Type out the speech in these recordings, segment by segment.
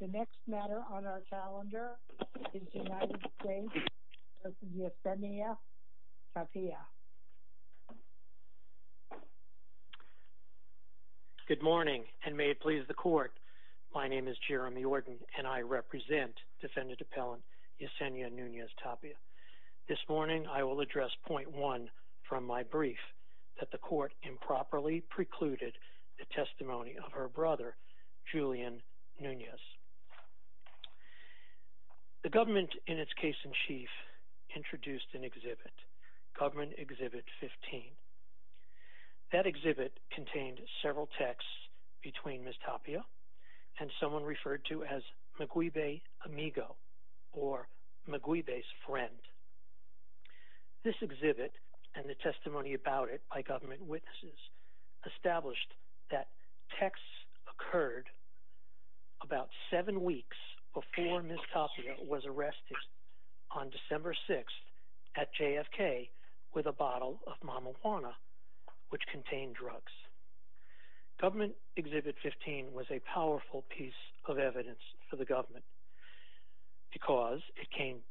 The next matter on our calendar is the United States v. Yesenia Nunez-Tapia. Good morning and may it please the court. My name is Jeremy Ordon and I represent Defendant Appellant Yesenia Nunez-Tapia. This morning I will address point one from my brief that the court improperly precluded the testimony of her brother, Julian Nunez. The government in its case in chief introduced an exhibit, Government Exhibit 15. That exhibit contained several texts between Ms. Tapia and someone referred to as Maguibe This exhibit and the testimony about it by government witnesses established that texts occurred about seven weeks before Ms. Tapia was arrested on December 6th at JFK with a bottle of marijuana which contained drugs. Government Exhibit 15 was a powerful piece of evidence for the government because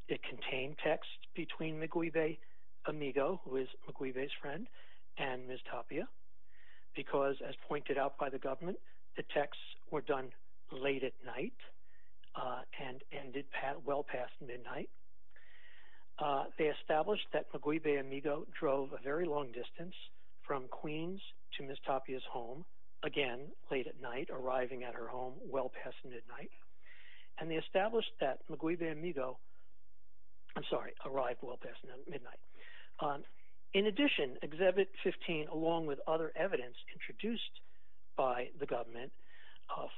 it contained texts between Maguibe Amigo, who is Maguibe's friend, and Ms. Tapia because as pointed out by the government the texts were done late at night and ended well past midnight. They established that Maguibe Amigo drove a very long distance from Queens to Ms. Tapia's home again late at night arriving at her home well past midnight and they established that I'm sorry, arrived well past midnight. In addition, Exhibit 15 along with other evidence introduced by the government,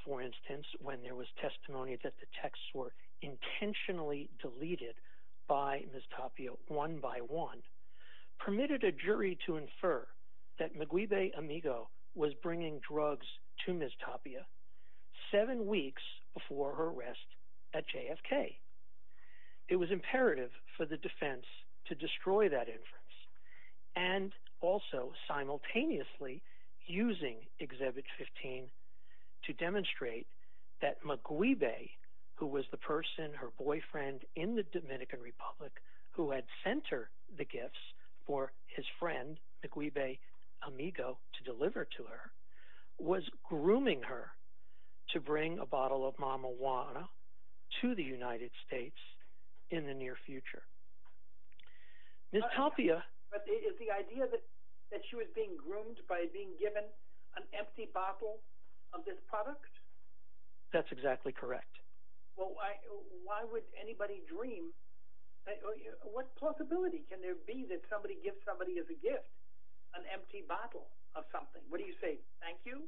for instance when there was testimony that the texts were intentionally deleted by Ms. Tapia one by one, permitted a jury to infer that Maguibe Amigo was bringing drugs to Ms. Tapia seven weeks before her arrest at JFK. It was imperative for the defense to destroy that inference and also simultaneously using Exhibit 15 to demonstrate that Maguibe, who was the person, her boyfriend in the Dominican Republic who had sent her the gifts for his friend Maguibe Amigo to deliver to her, was bringing a bottle of mamawana to the United States in the near future. Ms. Tapia... But is the idea that she was being groomed by being given an empty bottle of this product? That's exactly correct. Well why would anybody dream, what possibility can there be that somebody gives somebody as a gift an empty bottle of something? What do you say? Thank you?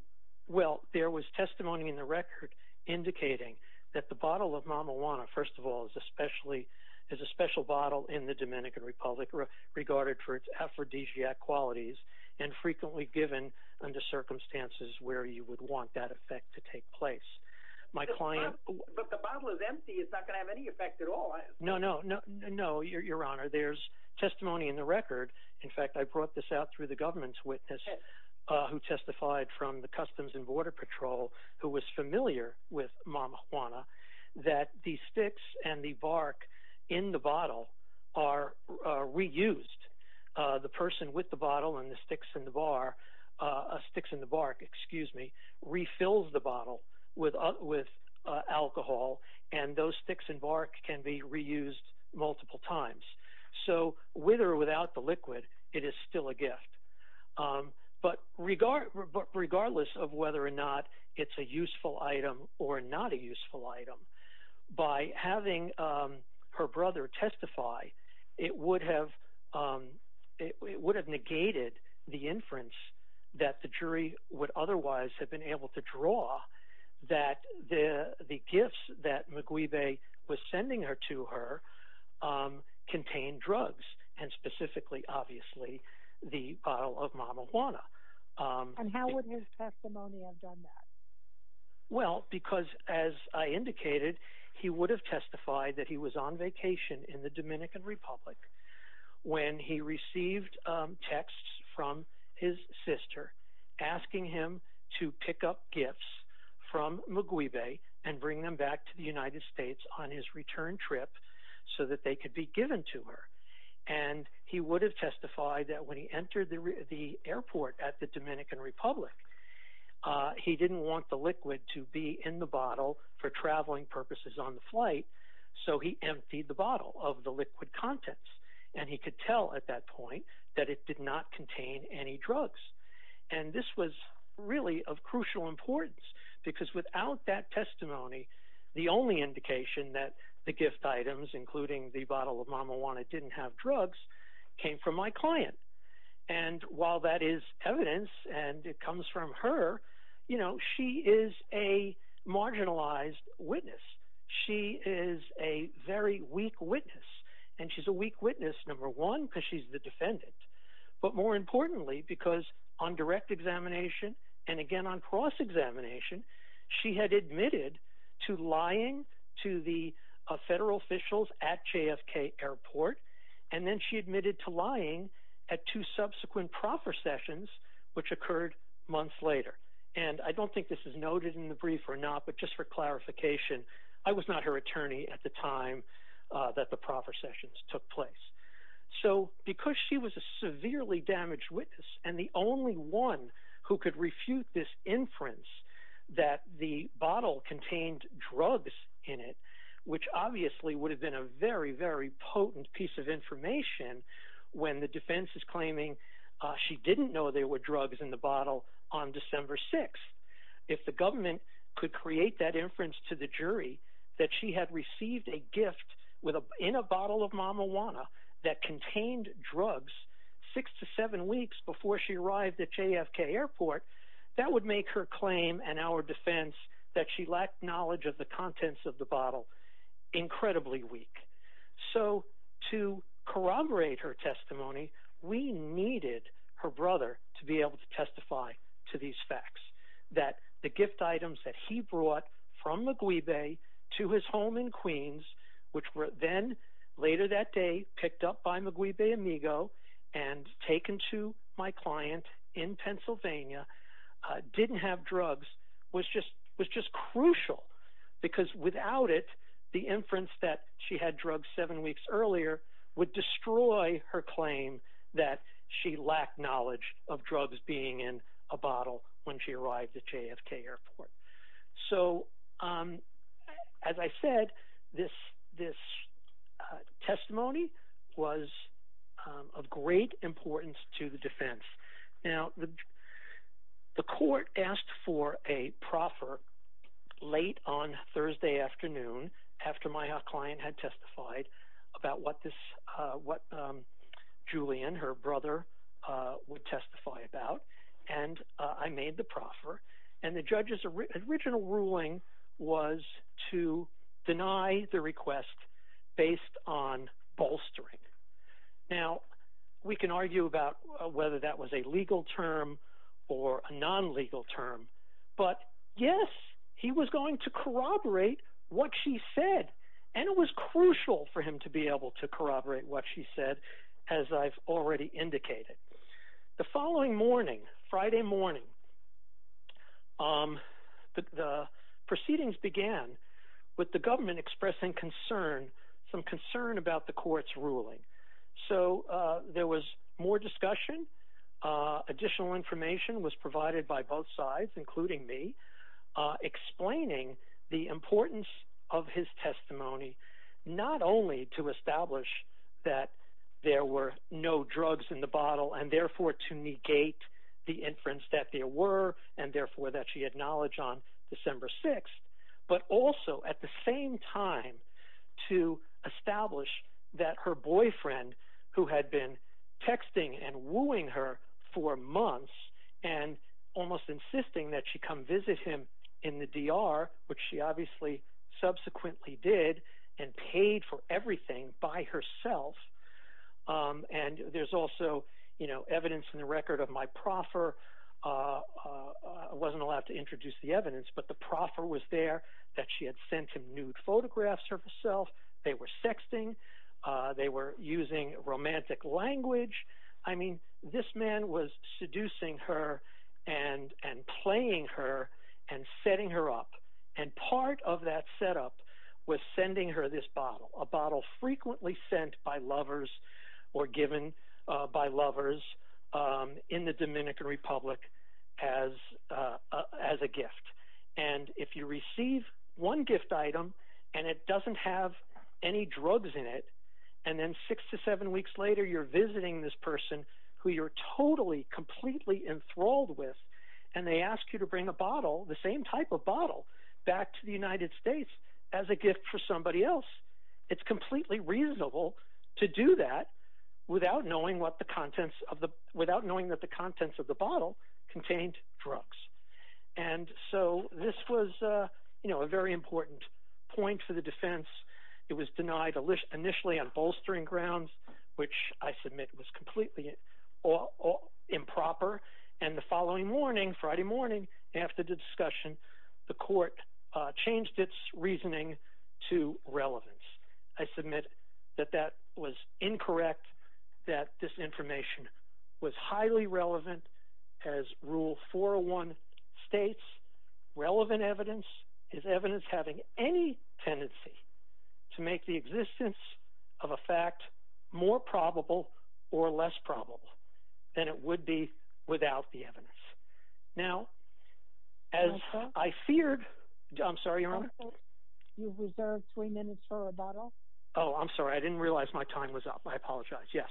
Well, there was testimony in the record indicating that the bottle of mamawana, first of all, is a special bottle in the Dominican Republic regarded for its aphrodisiac qualities and frequently given under circumstances where you would want that effect to take place. My client... But the bottle is empty, it's not going to have any effect at all, is it? No, no, no, your honor, there's testimony in the record, in fact I brought this out through the government's witness who testified from the Customs and Border Patrol who was familiar with mamawana, that the sticks and the bark in the bottle are reused. The person with the bottle and the sticks in the bar, sticks in the bark, excuse me, refills the bottle with alcohol and those sticks and bark can be reused multiple times. So with or without the liquid, it is still a gift. But regardless of whether or not it's a useful item or not a useful item, by having her brother testify it would have negated the inference that the jury would otherwise have been able to draw that the gifts that Maguibe was sending her to her contained drugs and specifically obviously the bottle of mamawana. And how would his testimony have done that? Well because as I indicated, he would have testified that he was on vacation in the Dominican Republic and he would have taken the gifts from Maguibe and bring them back to the United States on his return trip so that they could be given to her. And he would have testified that when he entered the airport at the Dominican Republic, he didn't want the liquid to be in the bottle for traveling purposes on the flight, so he emptied the bottle of the liquid contents and he could tell at that point that it did not contain any drugs. And this was really of crucial importance because without that testimony, the only indication that the gift items including the bottle of mamawana didn't have drugs came from my client. And while that is evidence and it comes from her, you know, she is a marginalized witness. She is a very weak witness and she's a weak witness, number one, because she's the defendant. But more importantly, because on direct examination and again on cross-examination, she had admitted to lying to the federal officials at JFK Airport and then she admitted to lying at two subsequent proffer sessions which occurred months later. And I don't think this is noted in the brief or not, but just for clarification, I was not her attorney at the time that the proffer sessions took place. So because she was a severely damaged witness and the only one who could refute this inference that the bottle contained drugs in it, which obviously would have been a very, very potent piece of information when the defense is claiming she didn't know there were drugs in the bottle on December 6th, if the government could create that inference to the jury that she had received a gift in a bottle of marijuana that contained drugs six to seven weeks before she arrived at JFK Airport, that would make her claim and our defense that she lacked knowledge of the contents of the bottle incredibly weak. So to corroborate her testimony, we needed her brother to be able to testify to these proffers, which were then later that day picked up by McGwee Bay Amigo and taken to my client in Pennsylvania, didn't have drugs, was just crucial because without it, the inference that she had drugs seven weeks earlier would destroy her claim that she lacked knowledge of drugs being in a bottle when she arrived at JFK Airport. So as I said, this testimony was of great importance to the defense. Now the court asked for a proffer late on Thursday afternoon after my client had testified about what Julian, her brother, would testify about, and I made the proffer, and the judge original ruling was to deny the request based on bolstering. Now we can argue about whether that was a legal term or a non-legal term, but yes, he was going to corroborate what she said, and it was crucial for him to be able to corroborate what she said, as I've already indicated. The following morning, Friday morning, the proceedings began with the government expressing concern, some concern about the court's ruling. So there was more discussion, additional information was provided by both sides, including me, explaining the importance of his testimony, not only to establish that there were no drugs in the bottle, and therefore to negate the inference that there were, and therefore that she had knowledge on December 6th, but also at the same time to establish that her boyfriend, who had been texting and wooing her for months, and almost insisting that she come visit him in the DR, which she obviously subsequently did, and paid for everything by herself, and there's also evidence in the record of my proffer, I wasn't allowed to introduce the evidence, but the proffer was there, that she had sent him nude photographs of herself, they were sexting, they were using romantic language, I mean, this man was seducing her and playing her and setting her up, and part of that setup was sending her this bottle, a bottle frequently sent by lovers or given by lovers in the Dominican Republic as a gift, and if you receive one gift item and it doesn't have any drugs in it, and then six to seven weeks later you're visiting this person who you're totally, completely enthralled with, and they ask you to bring a bottle, the same type of bottle, back to the United States as a gift for somebody else, it's completely reasonable to do that without knowing what the contents of the, without knowing that the contents of the bottle contained drugs, and so this was, you know, a very important point for the defense, it was denied initially on bolstering grounds, which I submit was completely improper, and the following morning, Friday morning, after the discussion, the court changed its reasoning to relevance. I submit that that was incorrect, that this information was highly relevant as Rule 401 states, relevant evidence is evidence having any tendency to make the existence of a fact more probable or less probable than it would be without the evidence. Now, as I feared, I'm sorry, Your Honor? You've reserved three minutes for rebuttal. Oh, I'm sorry, I didn't realize my time was up, I apologize, yes.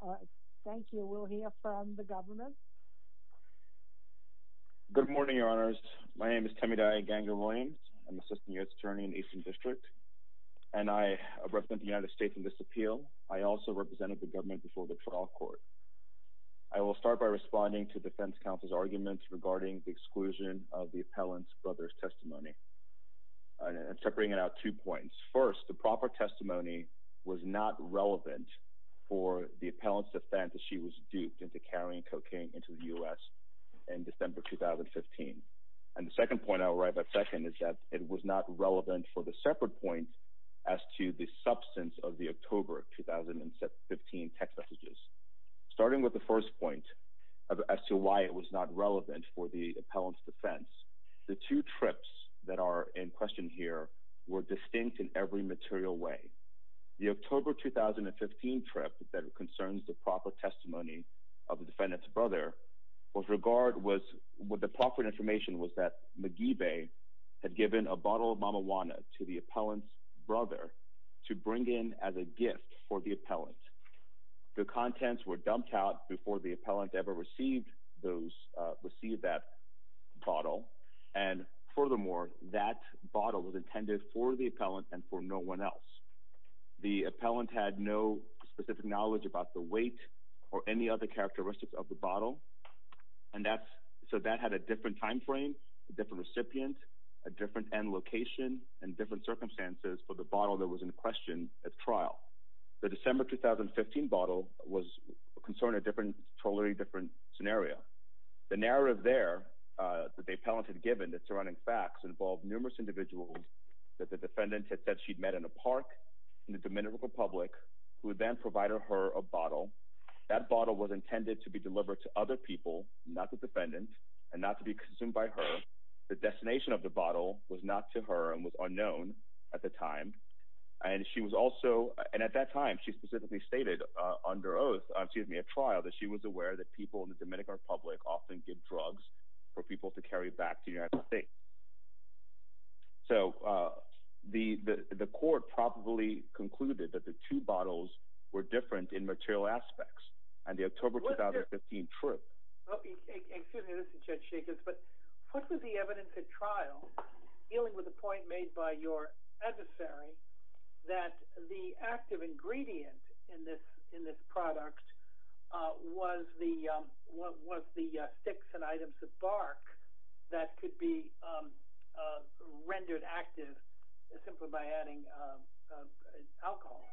All right, thank you, we'll hear from the government. Good morning, Your Honors, my name is Temiday Ganger-Williams, I'm Assistant U.S. Attorney in the Eastern District, and I represent the United States in this appeal. I also represented the government before the trial court. I will start by responding to defense counsel's arguments regarding the exclusion of the appellant's brother's testimony, and separating it out two points. First, the proper testimony was not relevant for the appellant's defense that she was duped into carrying cocaine into the U.S. in December 2015. And the second point, I'll arrive at second, is that it was not relevant for the separate point as to the substance of the October 2015 text messages. Starting with the first point, as to why it was not relevant for the appellant's defense, the two trips that are in question here were distinct in every material way. The October 2015 trip that concerns the proper testimony of the defendant's brother, was regard was, what the proper information was that McGee Bay had given a bottle of mamawana to the appellant's brother to bring in as a gift for the appellant. The contents were dumped out before the appellant ever received those, received that bottle, and furthermore, that bottle was intended for the appellant and for no one else. The appellant had no specific knowledge about the weight or any other characteristics of the bottle, and that's, so that had a different time frame, a different recipient, a different end location, and different circumstances for the bottle that was in question at trial. The December 2015 bottle was concerning a different, totally different scenario. The narrative there that the appellant had given, the surrounding facts, involved numerous individuals that the defendant had said she'd met in a park in the Dominican Republic, who then provided her a bottle. That bottle was intended to be delivered to other people, not the defendant, and not to be consumed by her. The destination of the bottle was not to her and was unknown at the time, and she was also, and at that time, she specifically stated under oath, excuse me, at trial, that she was aware that people in the Dominican Republic often give drugs for people to carry back to the United States. So, the court probably concluded that the two bottles were different in material aspects, and the October 2015 trip... Well, excuse me, this is Judge Jacobs, but what was the evidence at trial dealing with the point made by your adversary that the active ingredient in this product was the liquid that could be rendered active simply by adding alcohol?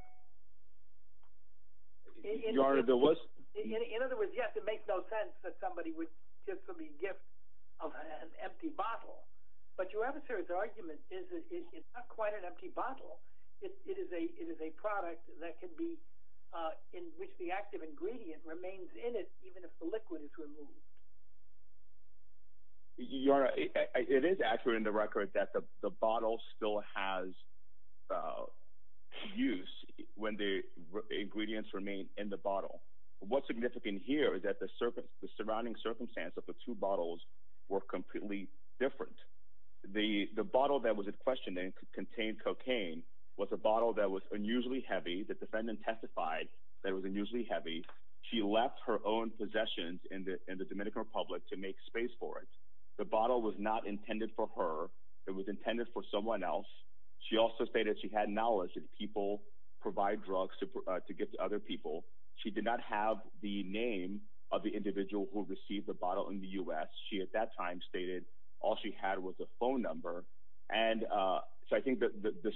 Your Honor, there was... In other words, yes, it makes no sense that somebody would give somebody a gift of an empty bottle, but your adversary's argument is that it's not quite an empty bottle. It is a product that can be, in which the active ingredient remains in it even if the liquid is removed. Your Honor, it is accurate in the record that the bottle still has use when the ingredients remain in the bottle. What's significant here is that the surrounding circumstance of the two bottles were completely different. The bottle that was in question, and it contained cocaine, was a bottle that was unusually heavy. The defendant testified that it was unusually heavy, and that she had asked her public to make space for it. The bottle was not intended for her. It was intended for someone else. She also stated she had knowledge that people provide drugs to gift to other people. She did not have the name of the individual who received the bottle in the U.S. She, at that time, stated all she had was a phone number, and so I think that the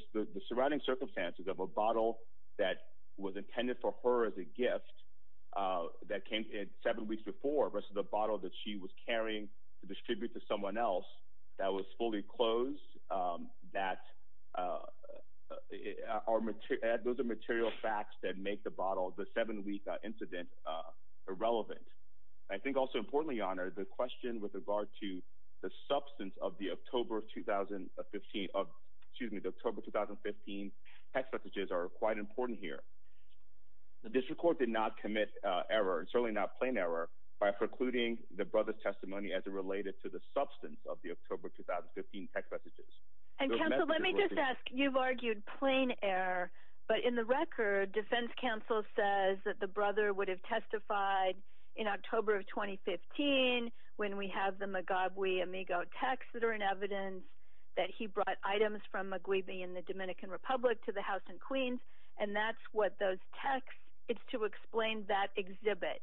surrounding circumstances of a bottle that was intended for her as a bottle that she was carrying to distribute to someone else that was fully closed, those are material facts that make the bottle, the seven-week incident, irrelevant. I think also, importantly, Your Honor, the question with regard to the substance of the October 2015 text messages are quite important here. The district court did not commit error, by precluding the brother's testimony as it related to the substance of the October 2015 text messages. And counsel, let me just ask, you've argued plain error, but in the record, defense counsel says that the brother would have testified in October of 2015, when we have the Mugabe Amigo texts that are in evidence, that he brought items from Mugabe in the Dominican Republic to the House and Queens, and that's what those texts, it's to explain that exhibit.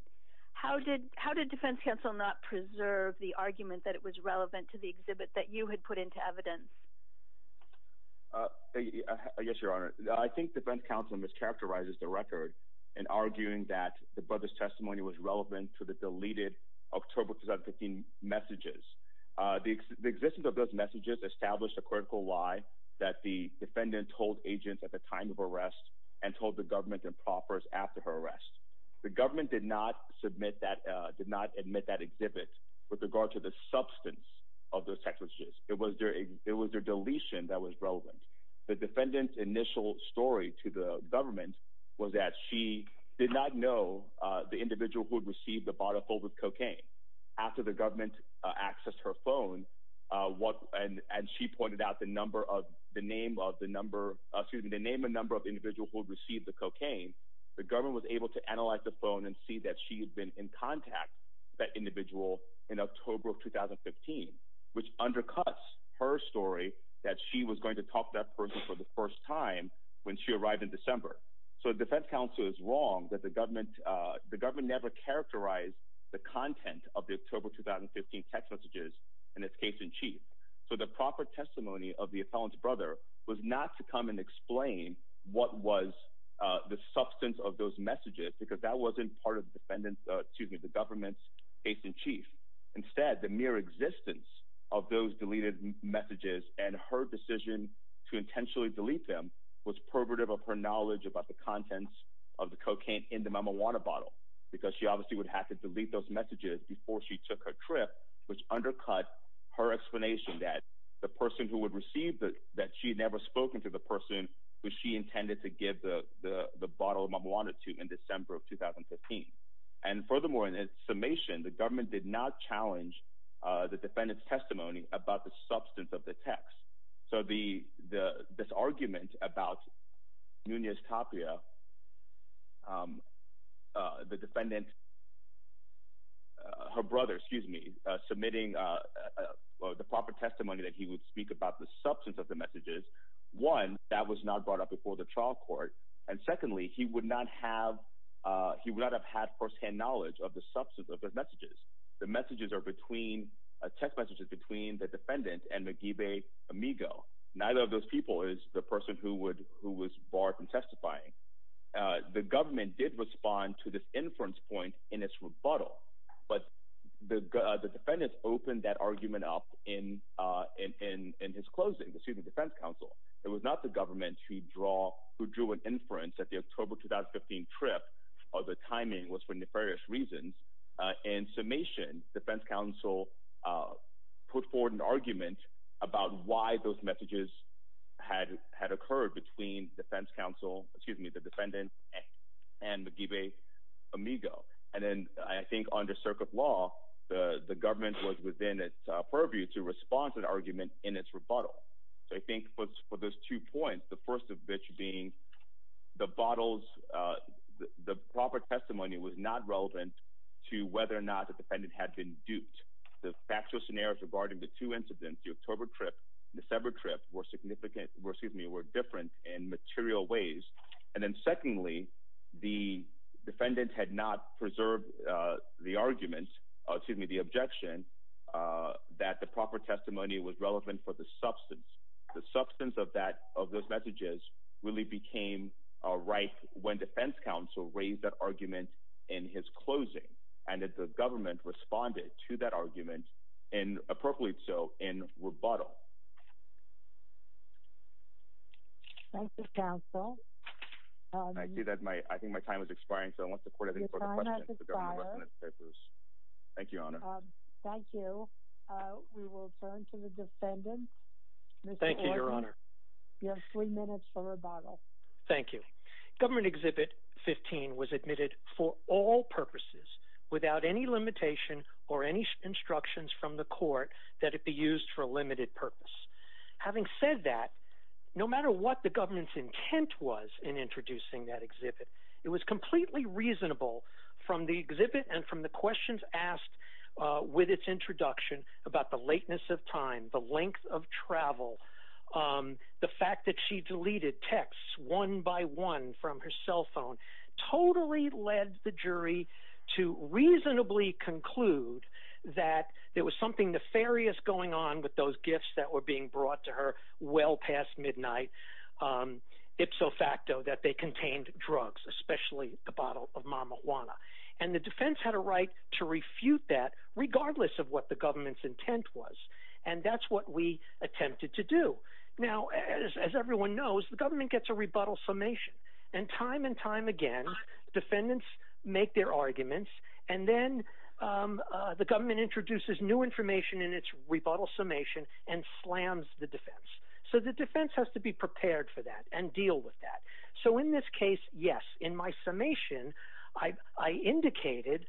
How did defense counsel not preserve the argument that it was relevant to the exhibit that you had put into evidence? Yes, Your Honor. I think defense counsel mischaracterizes the record in arguing that the brother's testimony was relevant to the deleted October 2015 messages. The existence of those messages established a critical lie that the defendant told agents at the time of arrest, and told the government and proffers after her arrest. The government did not submit that, did not admit that exhibit with regard to the substance of those text messages. It was their deletion that was relevant. The defendant's initial story to the government was that she did not know the individual who had received the bottle filled with cocaine. After the government accessed her phone, what, and she pointed out the number of, the name of the number, cocaine, the government was able to analyze the phone and see that she had been in contact with that individual in October of 2015, which undercuts her story that she was going to talk to that person for the first time when she arrived in December. So defense counsel is wrong that the government, the government never characterized the content of the October 2015 text messages in its case in chief. So the proper testimony of the felon's brother was not to come and explain what was the substance of those messages, because that wasn't part of the defendant, excuse me, the government's case in chief. Instead, the mere existence of those deleted messages and her decision to intentionally delete them was probative of her knowledge about the contents of the cocaine in the marijuana bottle, because she obviously would have to delete those messages before she took her trip, which undercut her and she had never spoken to the person who she intended to give the bottle of marijuana to in December of 2015. And furthermore, in its summation, the government did not challenge the defendant's testimony about the substance of the text. So this argument about Nunez Tapia, the defendant, her brother, excuse me, submitting the proper testimony that he would speak about the substance of the messages, one, that was not brought up before the trial court. And secondly, he would not have, he would not have had firsthand knowledge of the substance of those messages. The messages are between, text messages between the defendant and McGeevey Amigo. Neither of those people is the person who would, who was barred from testifying. The government did respond to this inference point in its rebuttal, but the defendants opened that argument up in his closing, excuse me, defense counsel. It was not the government who drew an inference that the October 2015 trip, or the timing was for nefarious reasons. In summation, defense counsel put forward an argument about why those messages had occurred between defense counsel, excuse me, the defendant and McGeevey Amigo. And then I think under circuit law, the government was within its purview to respond to the argument in its rebuttal. So I think for those two points, the first of which being the bottles, the proper testimony was not relevant to whether or not the defendant had been duped. The factual scenarios regarding the two incidents, the October trip, December trip were significant, excuse me, were different in material ways. And then secondly, the defendant had not preserved the argument, excuse me, the objection that the proper testimony was relevant for the substance. The substance of that, of those messages really became a rife when defense counsel raised that argument in his closing and that the government responded to that argument and appropriate so in rebuttal. Thank you, counsel. I see that my, I think my time is expiring, so I want the court to ask a question. Your time has expired. Thank you, Your Honor. Thank you. We will turn to the defendant. Thank you, Your Honor. You have three minutes for rebuttal. Thank you. Government Exhibit 15 was admitted for all purposes without any limitation or any instructions from the court that it be used for a limited purpose. Having said that, no matter what the government's intent was in introducing that exhibit, it was completely reasonable from the exhibit and from the questions asked with its introduction about the lateness of time, the length of travel, the fact that she deleted texts one by one from her cell phone, totally led the jury to reasonably conclude that there was something nefarious going on with those gifts that were being brought to her well past midnight, ipso facto, that they contained drugs, especially a bottle of marijuana. And the defense had a right to refute that regardless of what the government's intent was. And that's what we attempted to do. Now, as everyone knows, the government gets a rebuttal summation. And time and time again, defendants make their arguments and then the government introduces new information in its rebuttal summation and slams the defense. So the defense has to be prepared for that and deal with that. So in this case, yes, in my summation, I indicated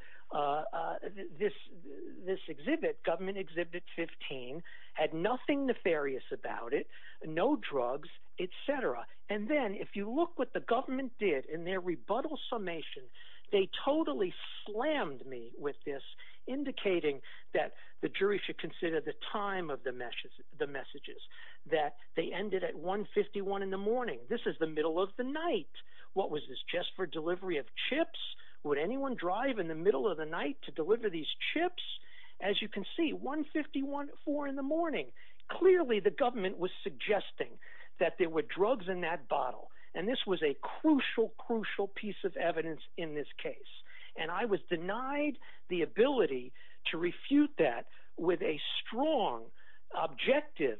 this exhibit, government exhibit 15, had nothing nefarious about it, no drugs, etc. And then if you look what the government did in their rebuttal summation, they totally slammed me with this indicating that the jury should consider the time of the messages, the messages that they ended at 1 51 in the morning, this is the middle of the night. What was this just for delivery of chips? Would anyone drive in the middle of the night to deliver these chips? As you can see, 1 51 four in the morning, clearly the government was suggesting that there were drugs in that bottle. And this was a crucial, crucial piece of evidence in this case. And I was denied the ability to refute that with a strong, objective,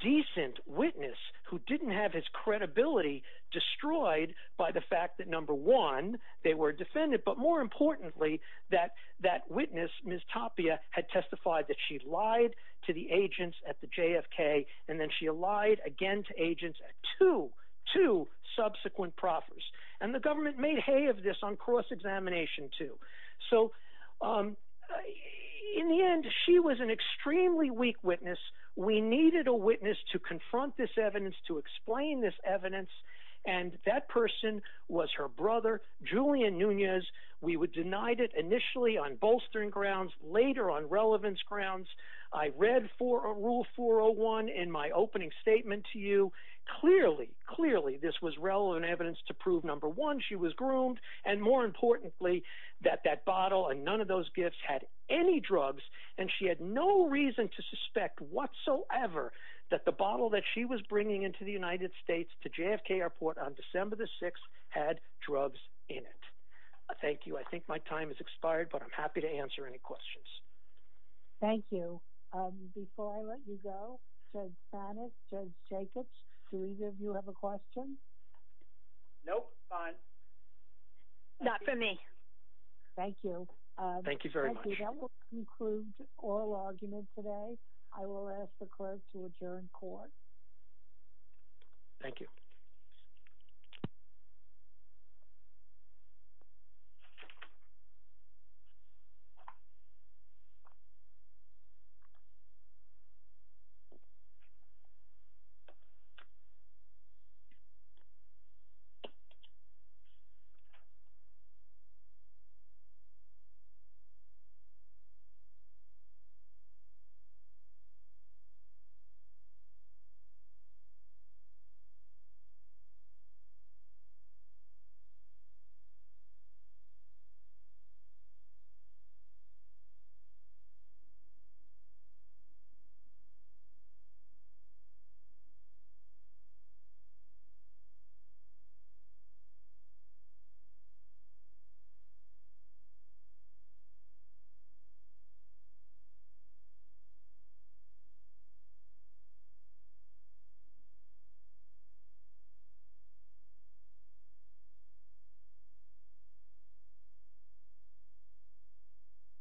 decent witness who didn't have his credibility destroyed by the fact that number one, they were defended. But more importantly, that that witness, Ms. Tapia, had testified that she lied to the agents at the JFK, and then she lied again to agents at two, two subsequent proffers. And the government made hay of this on cross-examination, too. So in the end, she was an extremely weak witness. We needed a witness to confront this evidence, to explain this evidence. And that person was her brother, Julian Nunez. We were denied it initially on bolstering grounds, later on relevance grounds. I read for a rule 401 in my opening statement to you. Clearly, clearly this was relevant evidence to prove number one, she was groomed. And more importantly, that that bottle and none of those gifts had any drugs, and she had no reason to suspect whatsoever that the bottle that she was bringing into the United States to JFK Airport on December the 6th had drugs in it. Thank you. I think my time has expired, but I'm happy to answer any questions. Thank you. Before I let you go, Judge Banas, Judge Jacobs, do either of you have a question? Nope. Fine. Not for me. Thank you. Thank you very much. That will conclude oral argument today. I will ask the clerk to adjourn court. Thank you. Thank you. Thank you.